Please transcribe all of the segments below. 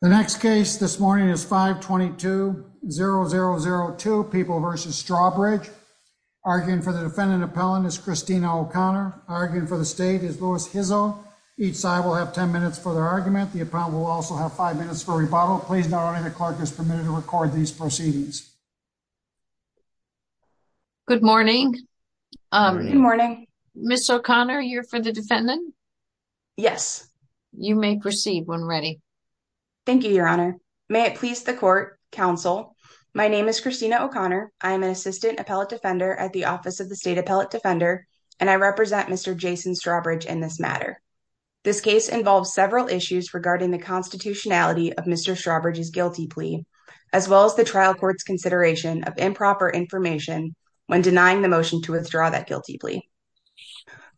The next case this morning is 522-0002, People v. Strawbridge. Arguing for the defendant appellant is Christina O'Connor. Arguing for the state is Louis Hizel. Each side will have 10 minutes for their argument. The appellant will also have five minutes for rebuttal. Please note only the clerk is permitted to record these proceedings. Good morning. Good morning. Ms. O'Connor, you're for the defendant? Yes. You may proceed when ready. Thank you, Your Honor. May it please the court, counsel, my name is Christina O'Connor. I am an assistant appellate defender at the Office of the State Appellate Defender, and I represent Mr. Jason Strawbridge in this matter. This case involves several issues regarding the constitutionality of Mr. Strawbridge's guilty plea, as well as the trial court's consideration of improper information when denying the motion to withdraw that guilty plea.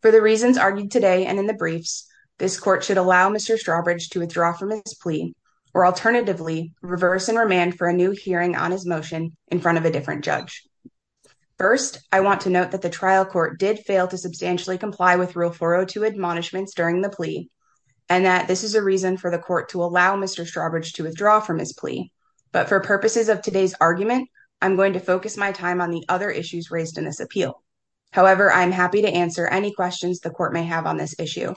For the reasons argued today and in the briefs, this court should allow Mr. Strawbridge to withdraw from his plea, or alternatively, reverse and remand for a new hearing on his motion in front of a different judge. First, I want to note that the trial court did fail to substantially comply with Rule 402 admonishments during the plea, and that this is a reason for the court to allow Mr. Strawbridge to withdraw from his plea. But for purposes of today's argument, I'm going to focus my time on the other issues raised in this appeal. However, I'm happy to answer any questions the court may have on this issue.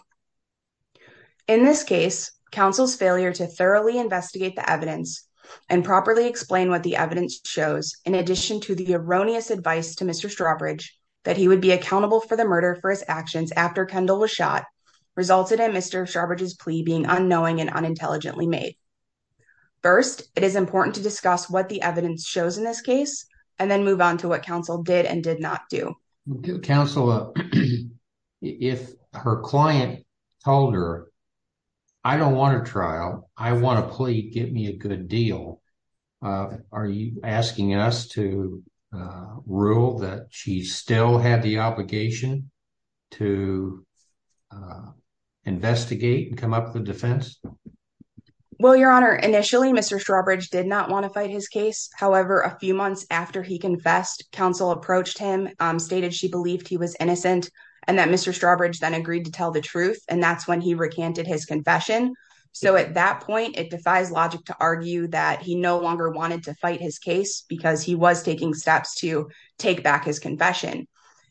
In this case, counsel's failure to thoroughly investigate the evidence and properly explain what the evidence shows, in addition to the erroneous advice to Mr. Strawbridge that he would be accountable for the murder for his actions after Kendall was shot, resulted in Mr. Strawbridge's plea being unknowing and unintelligently made. First, it is important to discuss what the evidence shows in this case, and then move on to what counsel did and did not do. Counsel, if her client told her, I don't want a trial, I want a plea, get me a good deal. Are you asking us to rule that she still had the obligation to investigate and come up with a defense? Well, Your Honor, initially, Mr. Strawbridge did not want to fight his case. However, a few months after he confessed, counsel approached him, stated she believed he was innocent, and that Mr. Strawbridge then agreed to tell the truth, and that's when he recanted his confession. So at that point, it defies logic to argue that he no longer wanted to fight his case because he was taking steps to take back his confession.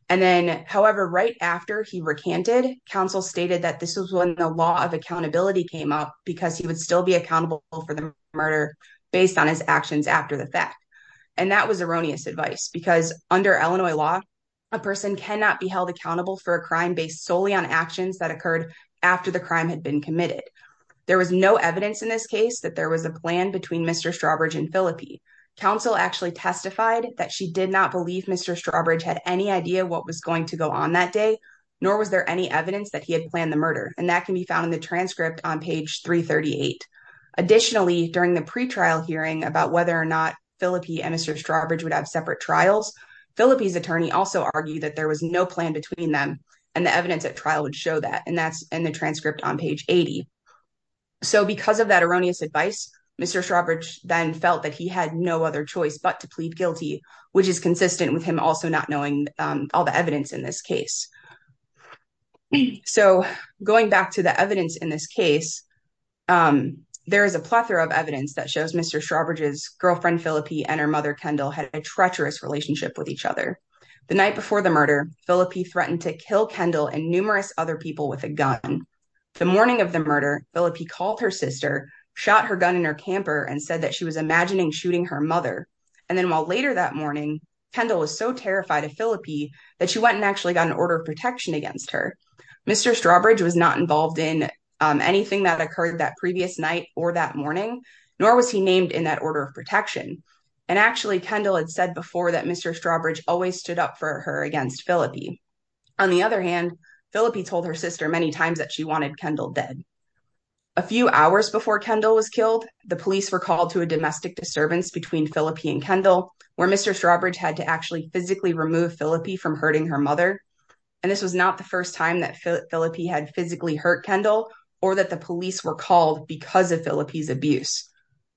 And then, however, right after he recanted, counsel stated that this was when the law of accountability came up because he would still be accountable for the murder based on his actions after the fact. And that was erroneous advice because under Illinois law, a person cannot be held accountable for a crime based solely on actions that occurred after the crime had been committed. There was no evidence in this case that there was a plan between Mr. Strawbridge and Phillippe. Counsel actually testified that she did not believe Mr. Strawbridge had any idea what was going to go on that day, nor was there any evidence that he had planned the murder, and that can be found in the transcript on page 338. Additionally, during the pretrial hearing about whether or not Phillippe and Mr. Strawbridge would have separate trials, Phillippe's attorney also argued that there was no plan between them and the evidence at trial would show that, and that's in the transcript on page 80. So because of that erroneous advice, Mr. Strawbridge then felt that he had no other choice but to plead guilty, which is consistent with him also not knowing all the evidence in this case. So going back to the evidence in this case, there is a plethora of evidence that shows Mr. Strawbridge's girlfriend, Phillippe, and her mother, Kendall, had a treacherous relationship with each other. The night before the murder, Phillippe threatened to kill Kendall and numerous other people with a gun. The morning of the murder, Phillippe called her sister, shot her gun in her camper, and said that she was imagining shooting her mother. And then while later that morning, Kendall was so terrified of Phillippe that she went and actually got an order of protection against her. Mr. Strawbridge was not involved in anything that occurred that previous night or that morning, nor was he named in that order of protection. And actually, Kendall had said before that Mr. Strawbridge always stood up for her against Phillippe. On the other hand, Phillippe told her sister many times that she wanted Kendall dead. A few hours before Kendall was killed, the police were called to a domestic disturbance between Phillippe and Kendall, where Mr. Strawbridge had to actually physically remove Phillippe from hurting her mother. And this was not the first time that Phillippe had physically hurt Kendall or that the police were called because of Phillippe's abuse.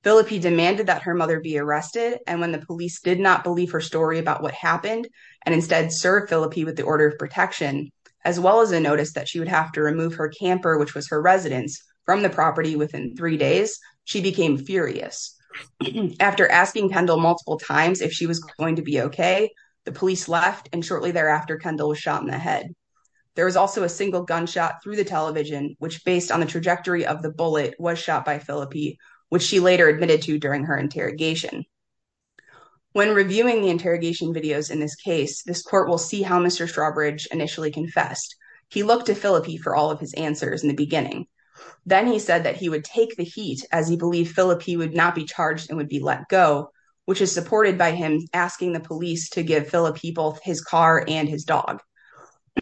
Phillippe demanded that her mother be arrested. And when the police did not believe her story about what happened, and instead served Phillippe with the order of protection, as well as a notice that she would have to remove her camper which was her residence from the property within three days, she became furious. After asking Kendall multiple times if she was going to be okay, the police left and shortly thereafter, Kendall was shot in the head. There was also a single gunshot through the television, which based on the trajectory of the bullet was shot by Phillippe, which she later admitted to during her interrogation. When reviewing the interrogation videos in this case, this court will see how Mr. Strawbridge initially confessed. He looked to Phillippe for all of his answers in the beginning. Then he said that he would take the heat as he believed Phillippe would not be charged and would be let go, which is supported by him asking the police to give Phillippe both his car and his dog.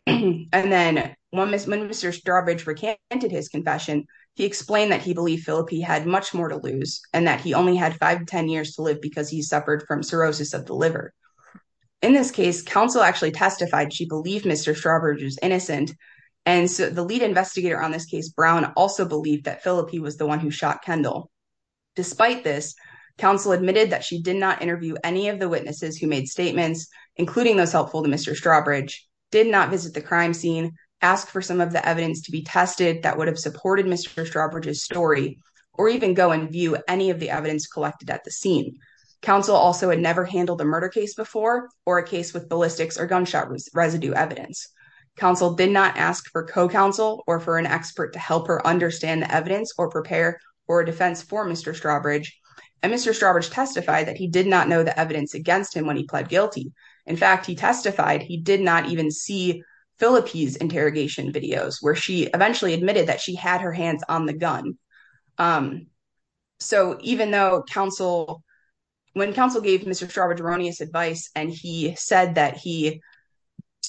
And then when Mr. Strawbridge recanted his confession, he explained that he believed Phillippe had much more to lose and that he only had five to 10 years to live because he suffered from cirrhosis of the liver. In this case, counsel actually testified she believed Mr. Strawbridge was innocent. And so the lead investigator on this case, Brown, also believed that Phillippe was the one who shot Kendall. Despite this, counsel admitted that she did not interview any of the witnesses who made statements, including those helpful to Mr. Strawbridge, did not visit the crime scene, asked for some of the evidence to be tested that would have supported Mr. Strawbridge's story, or even go and view any of the evidence collected at the scene. Counsel also had never handled a murder case before or a case with ballistics or gunshot residue evidence. Counsel did not ask for co-counsel or for an expert to help her understand the evidence or prepare for a defense for Mr. Strawbridge. And Mr. Strawbridge testified that he did not know the evidence against him when he pled guilty. In fact, he testified he did not even see Phillippe's interrogation videos where she eventually admitted that she had her hands on the gun. So even though counsel, when counsel gave Mr. Strawbridge erroneous advice and he said that he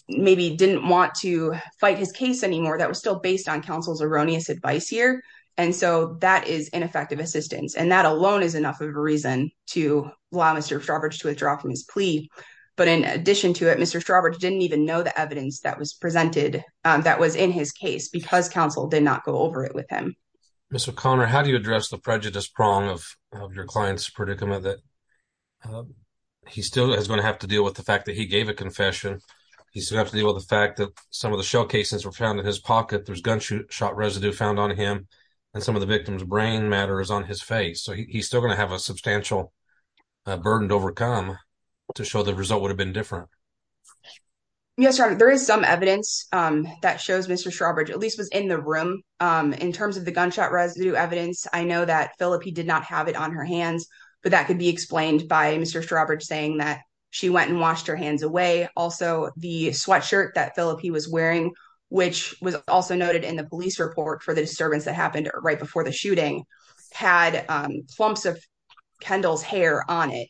maybe didn't want to fight his case anymore, that was still based on counsel's erroneous advice here. And so that is ineffective assistance. And that alone is enough of a reason to allow Mr. Strawbridge to withdraw from his plea. But in addition to it, Mr. Strawbridge didn't even know the evidence that was presented that was in his case because counsel did not go over it with him. Mr. O'Connor, how do you address the prejudice prong of your client's predicament that he still is gonna have to deal with the fact that he gave a confession? He still has to deal with the fact that some of the shell casings were found in his pocket. There's gunshot residue found on him and some of the victim's brain matters on his face. So he's still gonna have a substantial burden to overcome to show the result would have been different. Yes, sir. There is some evidence that shows Mr. Strawbridge at least was in the room. In terms of the gunshot residue evidence, I know that Phillipe did not have it on her hands, but that could be explained by Mr. Strawbridge saying that she went and washed her hands away. Also the sweatshirt that Phillipe was wearing, which was also noted in the police report for the disturbance that happened right before the shooting had clumps of Kendall's hair on it.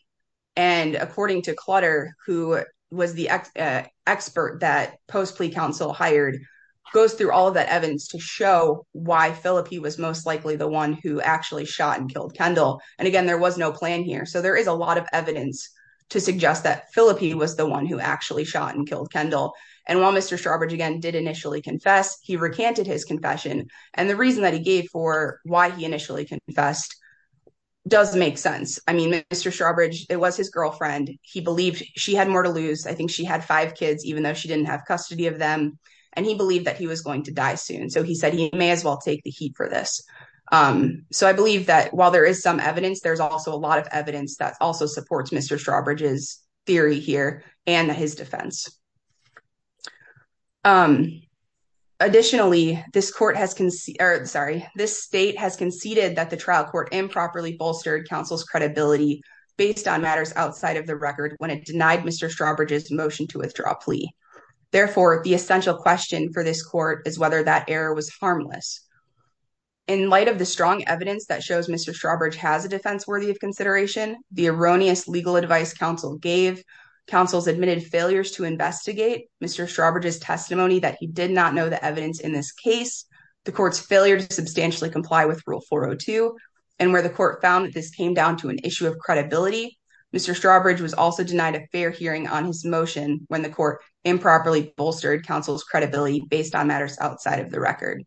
And according to Clutter, who was the expert that post plea counsel hired, goes through all of that evidence to show why Phillipe was most likely the one who actually shot and killed Kendall. And again, there was no plan here. So there is a lot of evidence to suggest that Phillipe was the one who actually shot and killed Kendall. And while Mr. Strawbridge again did initially confess, he recanted his confession. And the reason that he gave for why he initially confessed does make sense. I mean, Mr. Strawbridge, it was his girlfriend. He believed she had more to lose. I think she had five kids, even though she didn't have custody of them. And he believed that he was going to die soon. So he said he may as well take the heat for this. So I believe that while there is some evidence, there's also a lot of evidence that also supports Mr. Strawbridge's theory here and his defense. Additionally, this court has, sorry, this state has conceded that the trial court improperly bolstered counsel's credibility based on matters outside of the record when it denied Mr. Strawbridge's motion to withdraw plea. Therefore, the essential question for this court is whether that error was harmless. In light of the strong evidence that shows Mr. Strawbridge has a defense worthy of consideration, the erroneous legal advice counsel gave, counsel's admitted failures to investigate, Mr. Strawbridge's testimony that he did not know the evidence in this case, the court's failure to substantially comply with rule 402, and where the court found that this came down to an issue of credibility, Mr. Strawbridge was also denied a fair hearing on his motion when the court improperly bolstered counsel's credibility based on matters outside of the record.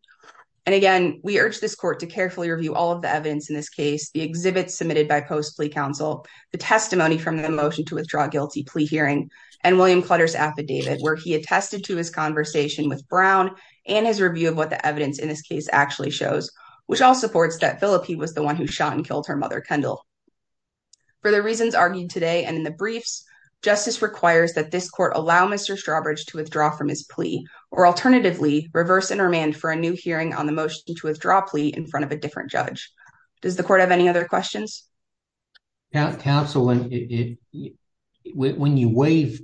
And again, we urge this court to carefully review all of the evidence in this case, the exhibits submitted by post plea counsel, the testimony from the motion to withdraw guilty plea hearing, and William Clutter's affidavit where he attested to his conversation with Brown and his review of what the evidence in this case actually shows, which all supports that Philippe was the one who shot and killed her mother, Kendall. For the reasons argued today and in the briefs, justice requires that this court allow Mr. Strawbridge to withdraw from his plea, or alternatively reverse intermand for a new hearing on the motion to withdraw plea in front of a different judge. Does the court have any other questions? Now, counsel, when you waive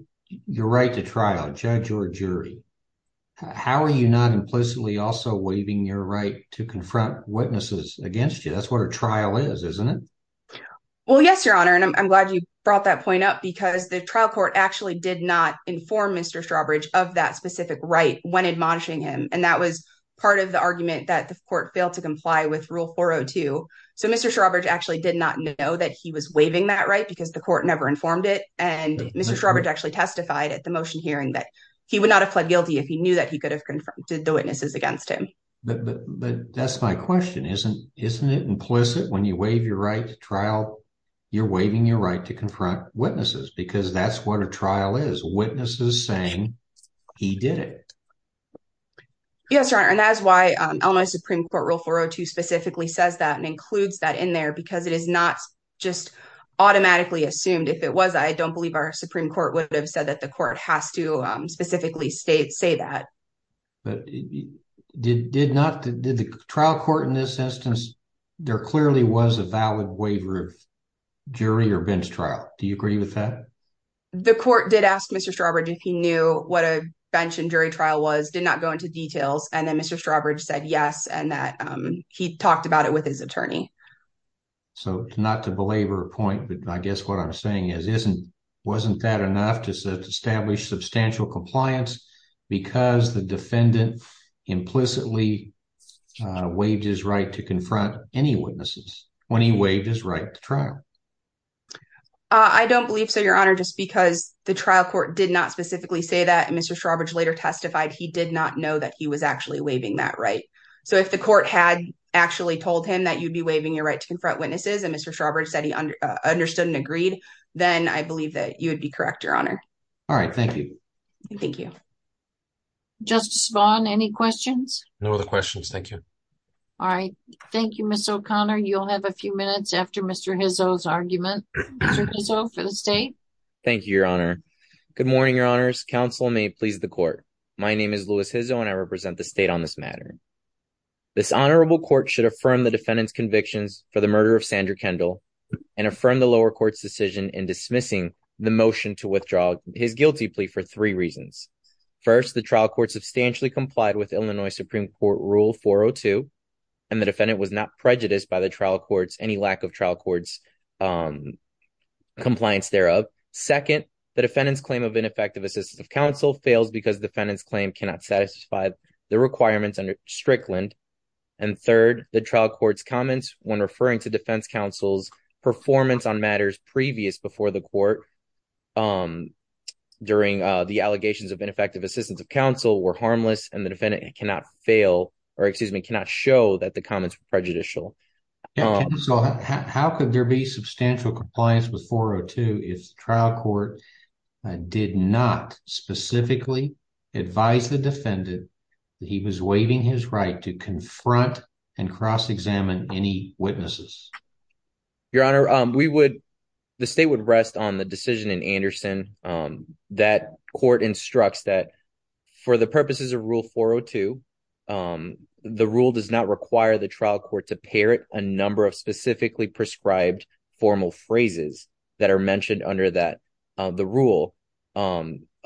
your right to trial, judge or jury, how are you not implicitly also waiving your right to confront witnesses against you? That's what a trial is, isn't it? Well, yes, your honor. And I'm glad you brought that point up because the trial court actually did not inform Mr. Strawbridge of that specific right when admonishing him. And that was part of the argument that the court failed to comply with rule 402. So Mr. Strawbridge actually did not know that he was waiving that right because the court never informed it. And Mr. Strawbridge actually testified at the motion hearing that he would not have pled guilty if he knew that he could have confronted the witnesses against him. But that's my question. Isn't it implicit when you waive your right to trial, you're waiving your right to confront witnesses because that's what a trial is. Witnesses saying he did it. Yes, your honor. And that's why Illinois Supreme Court rule 402 specifically says that and includes that in there because it is not just automatically assumed. If it was, I don't believe our Supreme Court would have said that the court has to specifically say that. But did the trial court in this instance, there clearly was a valid waiver of jury or bench trial. Do you agree with that? The court did ask Mr. Strawbridge if he knew what a bench and jury trial was, did not go into details. And then Mr. Strawbridge said yes and that he talked about it with his attorney. So not to belabor a point, but I guess what I'm saying is, wasn't that enough to establish substantial compliance because the defendant implicitly waived his right to confront any witnesses when he waived his right to trial? I don't believe so, your honor, just because the trial court did not specifically say that and Mr. Strawbridge later testified he did not know that he was actually waiving that right. So if the court had actually told him that you'd be waiving your right to confront witnesses and Mr. Strawbridge said he understood and agreed, then I believe that you would be correct, your honor. All right, thank you. Thank you. Justice Vaughn, any questions? No other questions, thank you. All right, thank you, Ms. O'Connor. You'll have a few minutes after Mr. Hizzo's argument. Mr. Hizzo for the state. Thank you, your honor. Good morning, your honors. Counsel may please the court. My name is Louis Hizzo and I represent the state on this matter. This honorable court should affirm the defendant's convictions for the murder of Sandra Kendall and affirm the lower court's decision in dismissing the motion to withdraw his guilty plea for three reasons. First, the trial court substantially complied with Illinois Supreme Court rule 402 and the defendant was not prejudiced by the trial courts, any lack of trial courts compliance thereof. Second, the defendant's claim of ineffective assistance of counsel fails because the defendant's claim cannot satisfy the requirements under Strickland. And third, the trial court's comments when referring to defense counsel's performance on matters previous before the court during the allegations of ineffective assistance of counsel were harmless and the defendant cannot fail or excuse me, cannot show that the comments were prejudicial. So how could there be substantial compliance with 402 if the trial court did not specifically advise the defendant that he was waiving his right to confront and cross-examine any witnesses? Your honor, the state would rest on the decision in Anderson that court instructs that for the purposes of rule 402, the rule does not require the trial court to parrot a number of specifically prescribed formal phrases that are mentioned under the rule.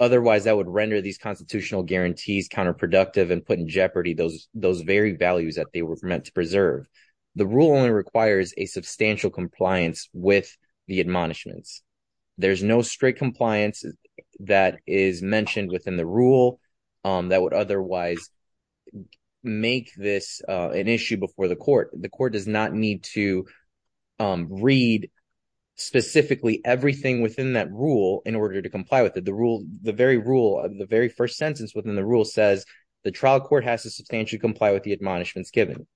Otherwise that would render these constitutional guarantees counterproductive and put in jeopardy those very values that they were meant to preserve. The rule only requires a substantial compliance with the admonishments. There's no strict compliance that is mentioned within the rule that would otherwise make this an issue before the court. The court does not need to read specifically everything within that rule in order to comply with it. The very rule, the very first sentence within the rule says, the trial court has to substantially comply with the admonishments given.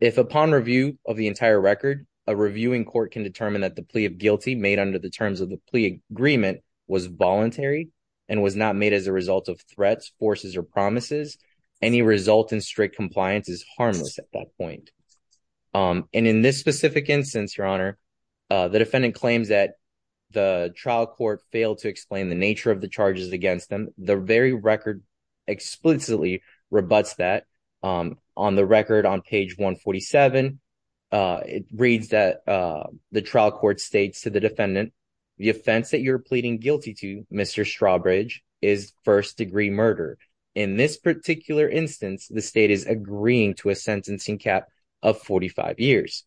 If upon review of the entire record, a reviewing court can determine that the plea of guilty made under the terms of the plea agreement was voluntary and was not made as a result of threats, forces, or promises, any result in strict compliance is harmless at that point. And in this specific instance, your honor, the defendant claims that the trial court failed to explain the nature of the charges against them. The very record explicitly rebuts that. On the record on page 147, it reads that the trial court states to the defendant, the offense that you're pleading guilty to, Mr. Strawbridge, is first degree murder. In this particular instance, the state is agreeing to a sentencing cap of 45 years.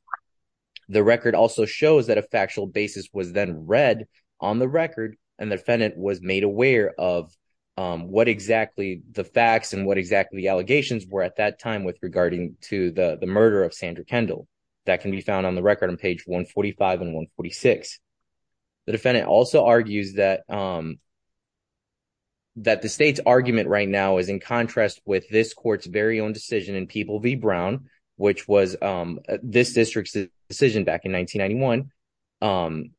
The record also shows that a factual basis was then read on the record, and the defendant was made aware of what exactly the facts and what exactly the allegations were at that time with regarding to the murder of Sandra Kendall. That can be found on the record on page 145 and 146. The defendant also argues that the state's argument right now is in contrast with this court's very own decision in People v. Brown, which was this district's decision back in 1991,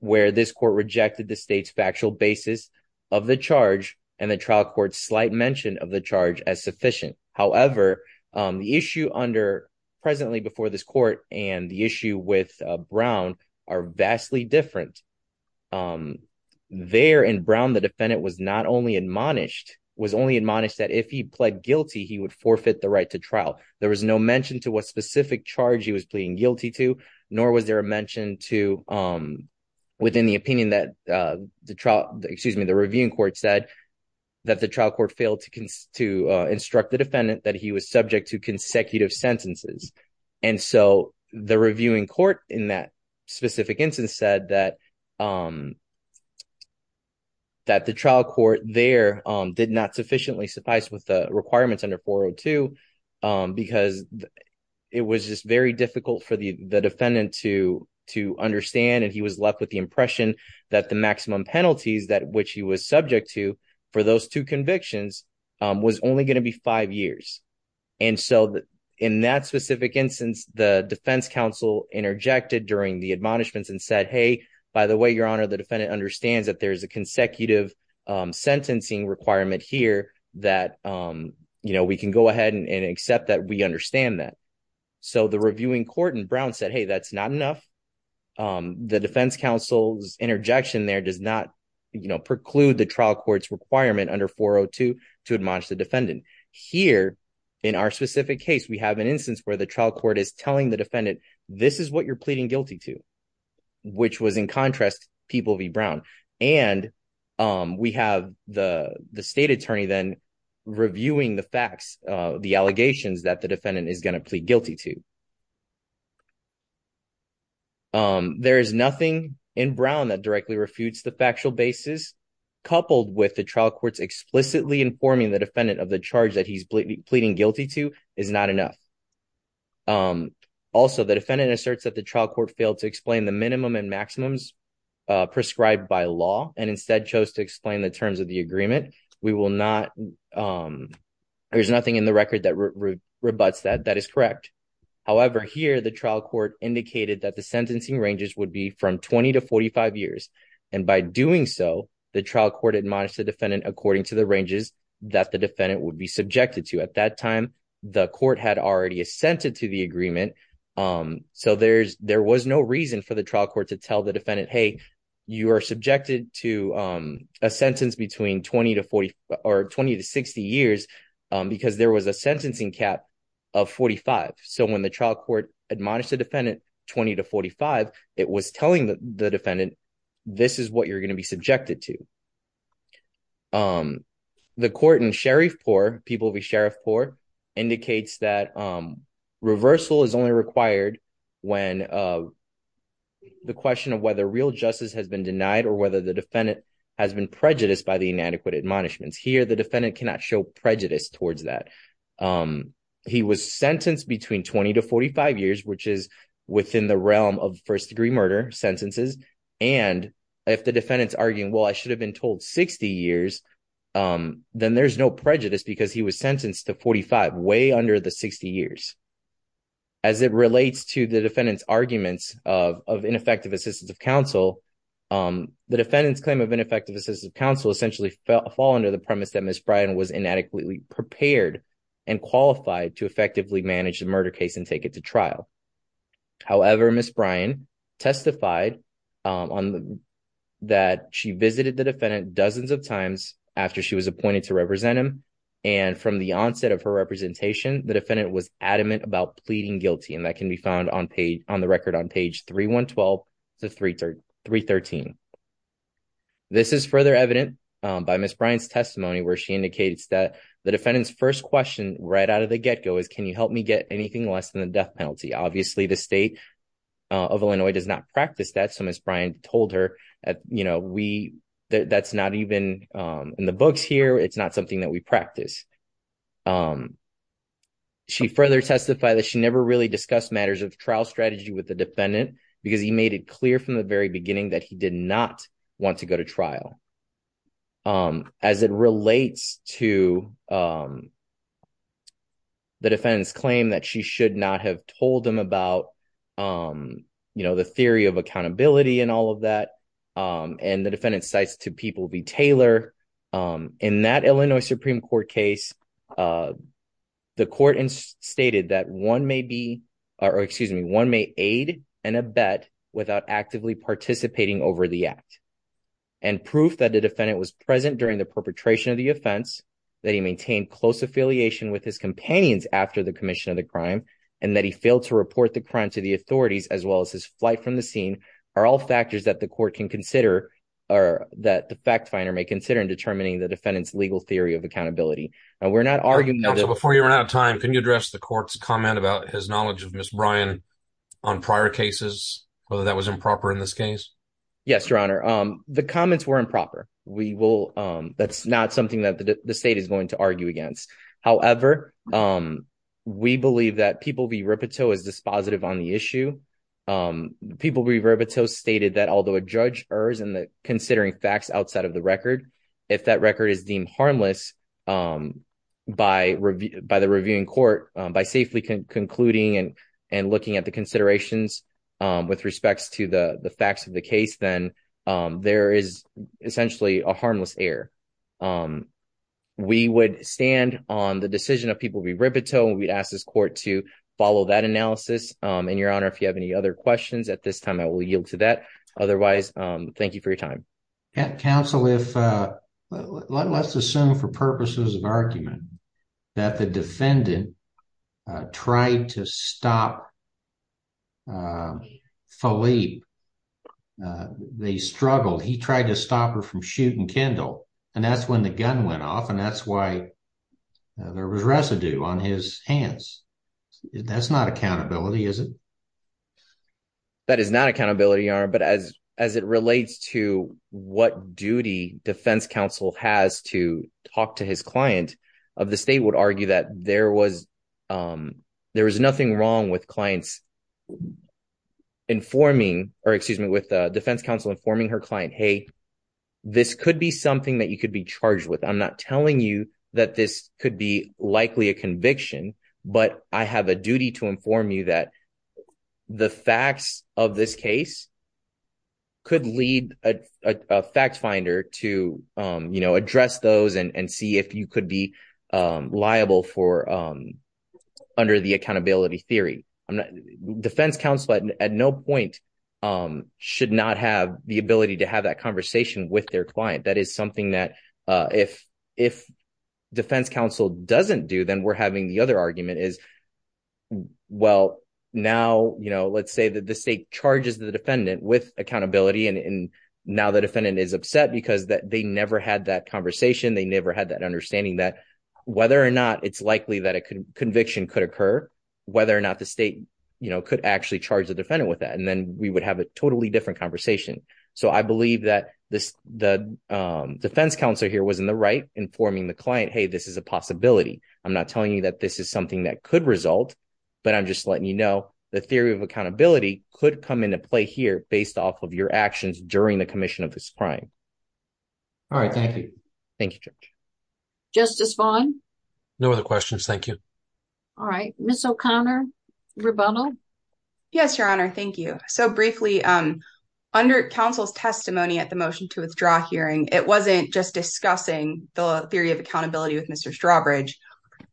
where this court rejected the state's factual basis of the charge and the trial court's slight mention of the charge as sufficient. However, the issue under presently before this court and the issue with Brown are vastly different. There in Brown, the defendant was not only admonished, was only admonished that if he pled guilty, he would forfeit the right to trial. There was no mention to what specific charge he was pleading guilty to, nor was there a mention to within the opinion that the trial, excuse me, the reviewing court said that the trial court failed to instruct the defendant that he was subject to consecutive sentences. And so the reviewing court in that specific instance said that the trial court there did not sufficiently suffice with the requirements under 402 because it was just very difficult for the defendant to understand. And he was left with the impression that the maximum penalties that which he was subject to for those two convictions was only gonna be five years. And so in that specific instance, the defense counsel interjected during the admonishments and said, hey, by the way, your honor, the defendant understands that there's a consecutive sentencing requirement here that we can go ahead and accept that we understand that. So the reviewing court in Brown said, hey, that's not enough. The defense counsel's interjection there does not, you know, preclude the trial court's requirement under 402 to admonish the defendant. Here in our specific case, we have an instance where the trial court is telling the defendant, this is what you're pleading guilty to, which was in contrast, People v. Brown. And we have the state attorney then reviewing the facts, the allegations that the defendant is gonna plead guilty to. There is nothing in Brown that directly refutes the factual basis coupled with the trial court's explicitly informing the defendant of the charge that he's pleading guilty to is not enough. Also, the defendant asserts that the trial court failed to explain the minimum and maximums prescribed by law and instead chose to explain the terms of the agreement. We will not, there's nothing in the record that rebutts that, that is correct. However, here the trial court indicated that the sentencing ranges would be from 20 to 45 years. And by doing so, the trial court admonished the defendant according to the ranges that the defendant would be subjected to. At that time, the court had already assented to the agreement. So there was no reason for the trial court to tell the defendant, hey, you are subjected to a sentence between 20 to 40 or 20 to 60 years because there was a sentencing cap of 45. So when the trial court admonished the defendant 20 to 45, it was telling the defendant, this is what you're gonna be subjected to. The court in Sheriffpore, People v. Sheriffpore indicates that reversal is only required when the question of whether real justice has been denied or whether the defendant has been prejudiced by the inadequate admonishments. Here, the defendant cannot show prejudice towards that. He was sentenced between 20 to 45 years, which is within the realm of first degree murder sentences. And if the defendant's arguing, well, I should have been told 60 years, then there's no prejudice because he was sentenced to 45, way under the 60 years. As it relates to the defendant's arguments of ineffective assistance of counsel, the defendant's claim of ineffective assistance of counsel essentially fall under the premise that Ms. Bryan was inadequately prepared and qualified to effectively manage the murder case and take it to trial. However, Ms. Bryan testified that she visited the defendant dozens of times after she was appointed to represent him. And from the onset of her representation, the defendant was adamant about pleading guilty. And that can be found on the record on page 312 to 313. This is further evident by Ms. Bryan's testimony where she indicates that the defendant's first question right out of the get-go is, can you help me get anything less than the death penalty? Obviously, the state of Illinois does not practice that. So Ms. Bryan told her that's not even in the books here. It's not something that we practice. She further testified that she never really discussed matters of trial strategy with the defendant because he made it clear from the very beginning that he did not want to go to trial. As it relates to the defendant's claim that she should not have told him about the theory of accountability and all of that, and the defendant cites to people B. Taylor, in that Illinois Supreme Court case, the court stated that one may be, or excuse me, one may aid and abet without actively participating over the act. And proof that the defendant was present during the perpetration of the offense, that he maintained close affiliation with his companions after the commission of the crime, and that he failed to report the crime to the authorities, as well as his flight from the scene, are all factors that the court can consider, or that the fact finder may consider in determining the defendant's legal theory of accountability. And we're not arguing that- Counsel, before you run out of time, can you address the court's comment about his knowledge of Ms. Bryan on prior cases, whether that was improper in this case? Yes, Your Honor. The comments were improper. We will, that's not something that the state is going to argue against. However, we believe that people B. Ripito is dispositive on the issue. People B. Ripito stated that although a judge errs in considering facts outside of the record, if that record is deemed harmless by the reviewing court, by safely concluding and looking at the considerations with respects to the facts of the case, then there is essentially a harmless error. We would stand on the decision of people B. Ripito, and we'd ask this court to follow that analysis. And Your Honor, if you have any other questions, at this time, I will yield to that. Otherwise, thank you for your time. Counsel, let's assume for purposes of argument that the defendant tried to stop Philippe. They struggled. He tried to stop her from shooting Kendall, and that's when the gun went off, and that's why there was residue on his hands. That's not accountability, is it? That is not accountability, Your Honor. But as it relates to what duty defense counsel has to talk to his client, the state would argue that there was nothing wrong with clients informing, or excuse me, with defense counsel informing her client, hey, this could be something that you could be charged with. I'm not telling you that this could be likely a conviction, but I have a duty to inform you that the facts of this case could lead a fact finder to address those and see if you could be liable under the accountability theory. Defense counsel at no point should not have the ability to have that conversation with their client. That is something that if defense counsel doesn't do, then we're having the other argument is, well, now let's say that the state charges the defendant with accountability, and now the defendant is upset because they never had that conversation, they never had that understanding that whether or not it's likely that a conviction could occur, whether or not the state could actually charge the defendant with that, and then we would have a totally different conversation. So I believe that the defense counsel here was in the right informing the client, hey, this is a possibility. I'm not telling you that this is something that could result, but I'm just letting you know the theory of accountability could come into play here based off of your actions during the commission of this crime. All right, thank you. Thank you, Judge. Justice Vaughn? No other questions, thank you. All right, Ms. O'Connor, rebuttal? Yes, Your Honor, thank you. at the motion to withdraw hearing, it wasn't just discussing the theory of accountability with Mr. Strawbridge.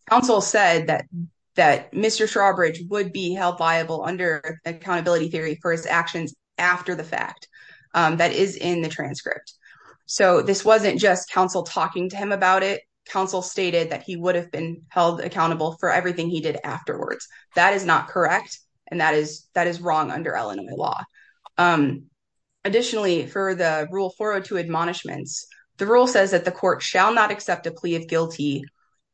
Counsel said that Mr. Strawbridge would be held liable under accountability theory for his actions after the fact. That is in the transcript. So this wasn't just counsel talking to him about it. Counsel stated that he would have been held accountable for everything he did afterwards. That is not correct, and that is wrong under Illinois law. Additionally, for the rule 402 admonishments, the rule says that the court shall not accept a plea of guilty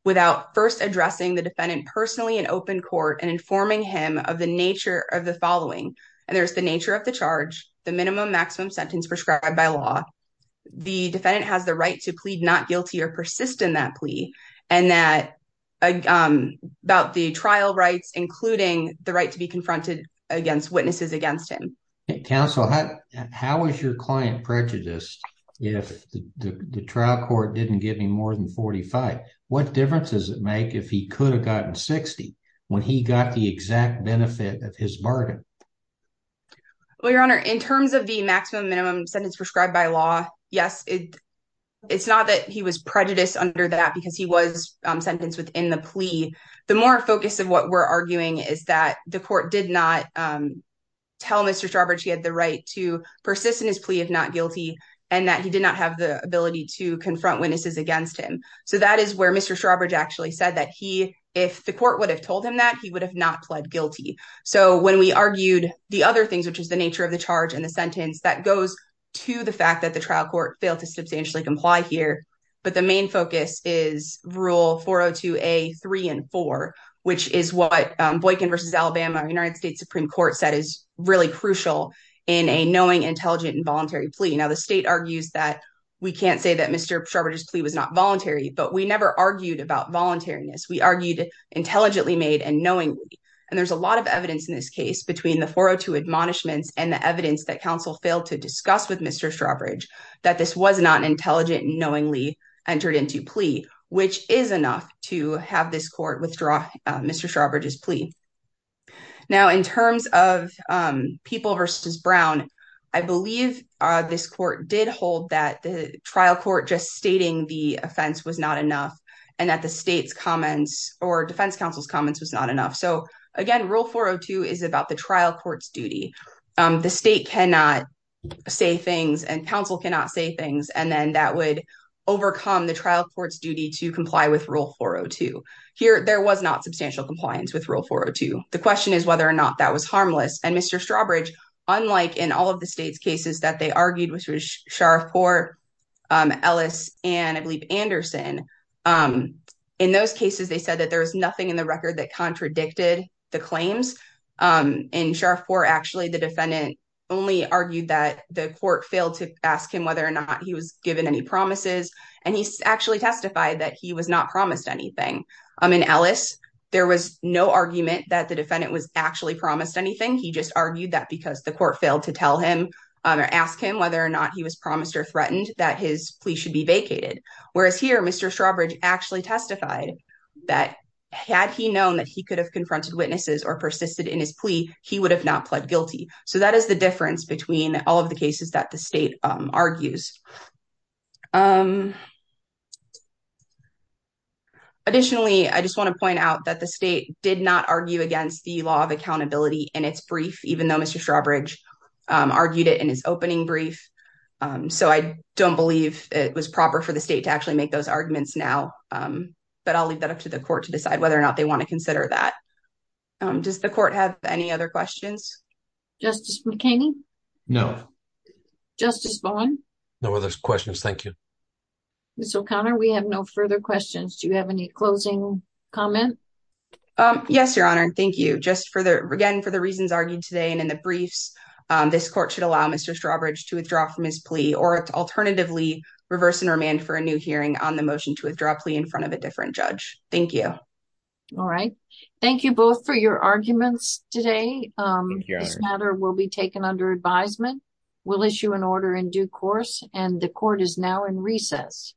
without first addressing the defendant personally in open court and informing him of the nature of the following. And there's the nature of the charge, the minimum maximum sentence prescribed by law. The defendant has the right to plead not guilty or persist in that plea, and that about the trial rights, including the right to be confronted against witnesses against him. Counsel, how was your client prejudiced if the trial court didn't give him more than 45? What difference does it make if he could have gotten 60 when he got the exact benefit of his bargain? Well, your honor, in terms of the maximum minimum sentence prescribed by law, yes, it's not that he was prejudiced under that because he was sentenced within the plea. The more focus of what we're arguing is that the court did not tell Mr. Strawbridge he had the right to persist in his plea if not guilty, and that he did not have the ability to confront witnesses against him. So that is where Mr. Strawbridge actually said that he, if the court would have told him that, he would have not pled guilty. So when we argued the other things, which is the nature of the charge and the sentence, that goes to the fact that the trial court failed to substantially comply here. But the main focus is rule 402A, three and four, which is what Boykin versus Alabama, United States Supreme Court said is really crucial in a knowing, intelligent, and voluntary plea. Now, the state argues that we can't say that Mr. Strawbridge's plea was not voluntary, but we never argued about voluntariness. We argued intelligently made and knowingly. And there's a lot of evidence in this case between the 402 admonishments and the evidence that counsel failed to discuss with Mr. Strawbridge that this was not intelligent and knowingly entered into plea, which is enough to have this court withdraw Mr. Strawbridge's plea. Now, in terms of People versus Brown, I believe this court did hold that the trial court just stating the offense was not enough and that the state's comments or defense counsel's comments was not enough. So again, rule 402 is about the trial court's duty. The state cannot say things and counsel cannot say things. And then that would overcome the trial court's duty to comply with rule 402. Here, there was not substantial compliance with rule 402. The question is whether or not that was harmless. And Mr. Strawbridge, unlike in all of the state's cases that they argued, which was Sharfport, Ellis, and I believe Anderson. In those cases, they said that there was nothing in the record that contradicted the claims. In Sharfport, actually the defendant only argued that the court failed to ask him whether or not he was given any promises. And he actually testified that he was not promised anything. I mean, Ellis, there was no argument that the defendant was actually promised anything. He just argued that because the court failed to tell him or ask him whether or not he was promised or threatened that his plea should be vacated. Whereas here, Mr. Strawbridge actually testified that had he known that he could have confronted witnesses or persisted in his plea, he would have not pled guilty. So that is the difference between all of the cases that the state argues. Additionally, I just wanna point out that the state did not argue against the law of accountability in its brief, even though Mr. Strawbridge argued it in his opening brief. So I don't believe it was proper for the state to actually make those arguments now, but I'll leave that up to the court to decide whether or not they wanna consider that. Does the court have any other questions? Justice McKinney? Justice Bowen? No other questions, thank you. Ms. O'Connor, we have no further questions. Do you have any closing comment? Yes, Your Honor, thank you. Just for the, again, for the reasons argued today and in the briefs, this court should allow Mr. Strawbridge to withdraw from his plea or alternatively reverse and remand for a new hearing on the motion to withdraw a plea in front of a different judge. Thank you. All right, thank you both for your arguments today. This matter will be taken under advisement. We'll issue an order in due course and the court is now in recess.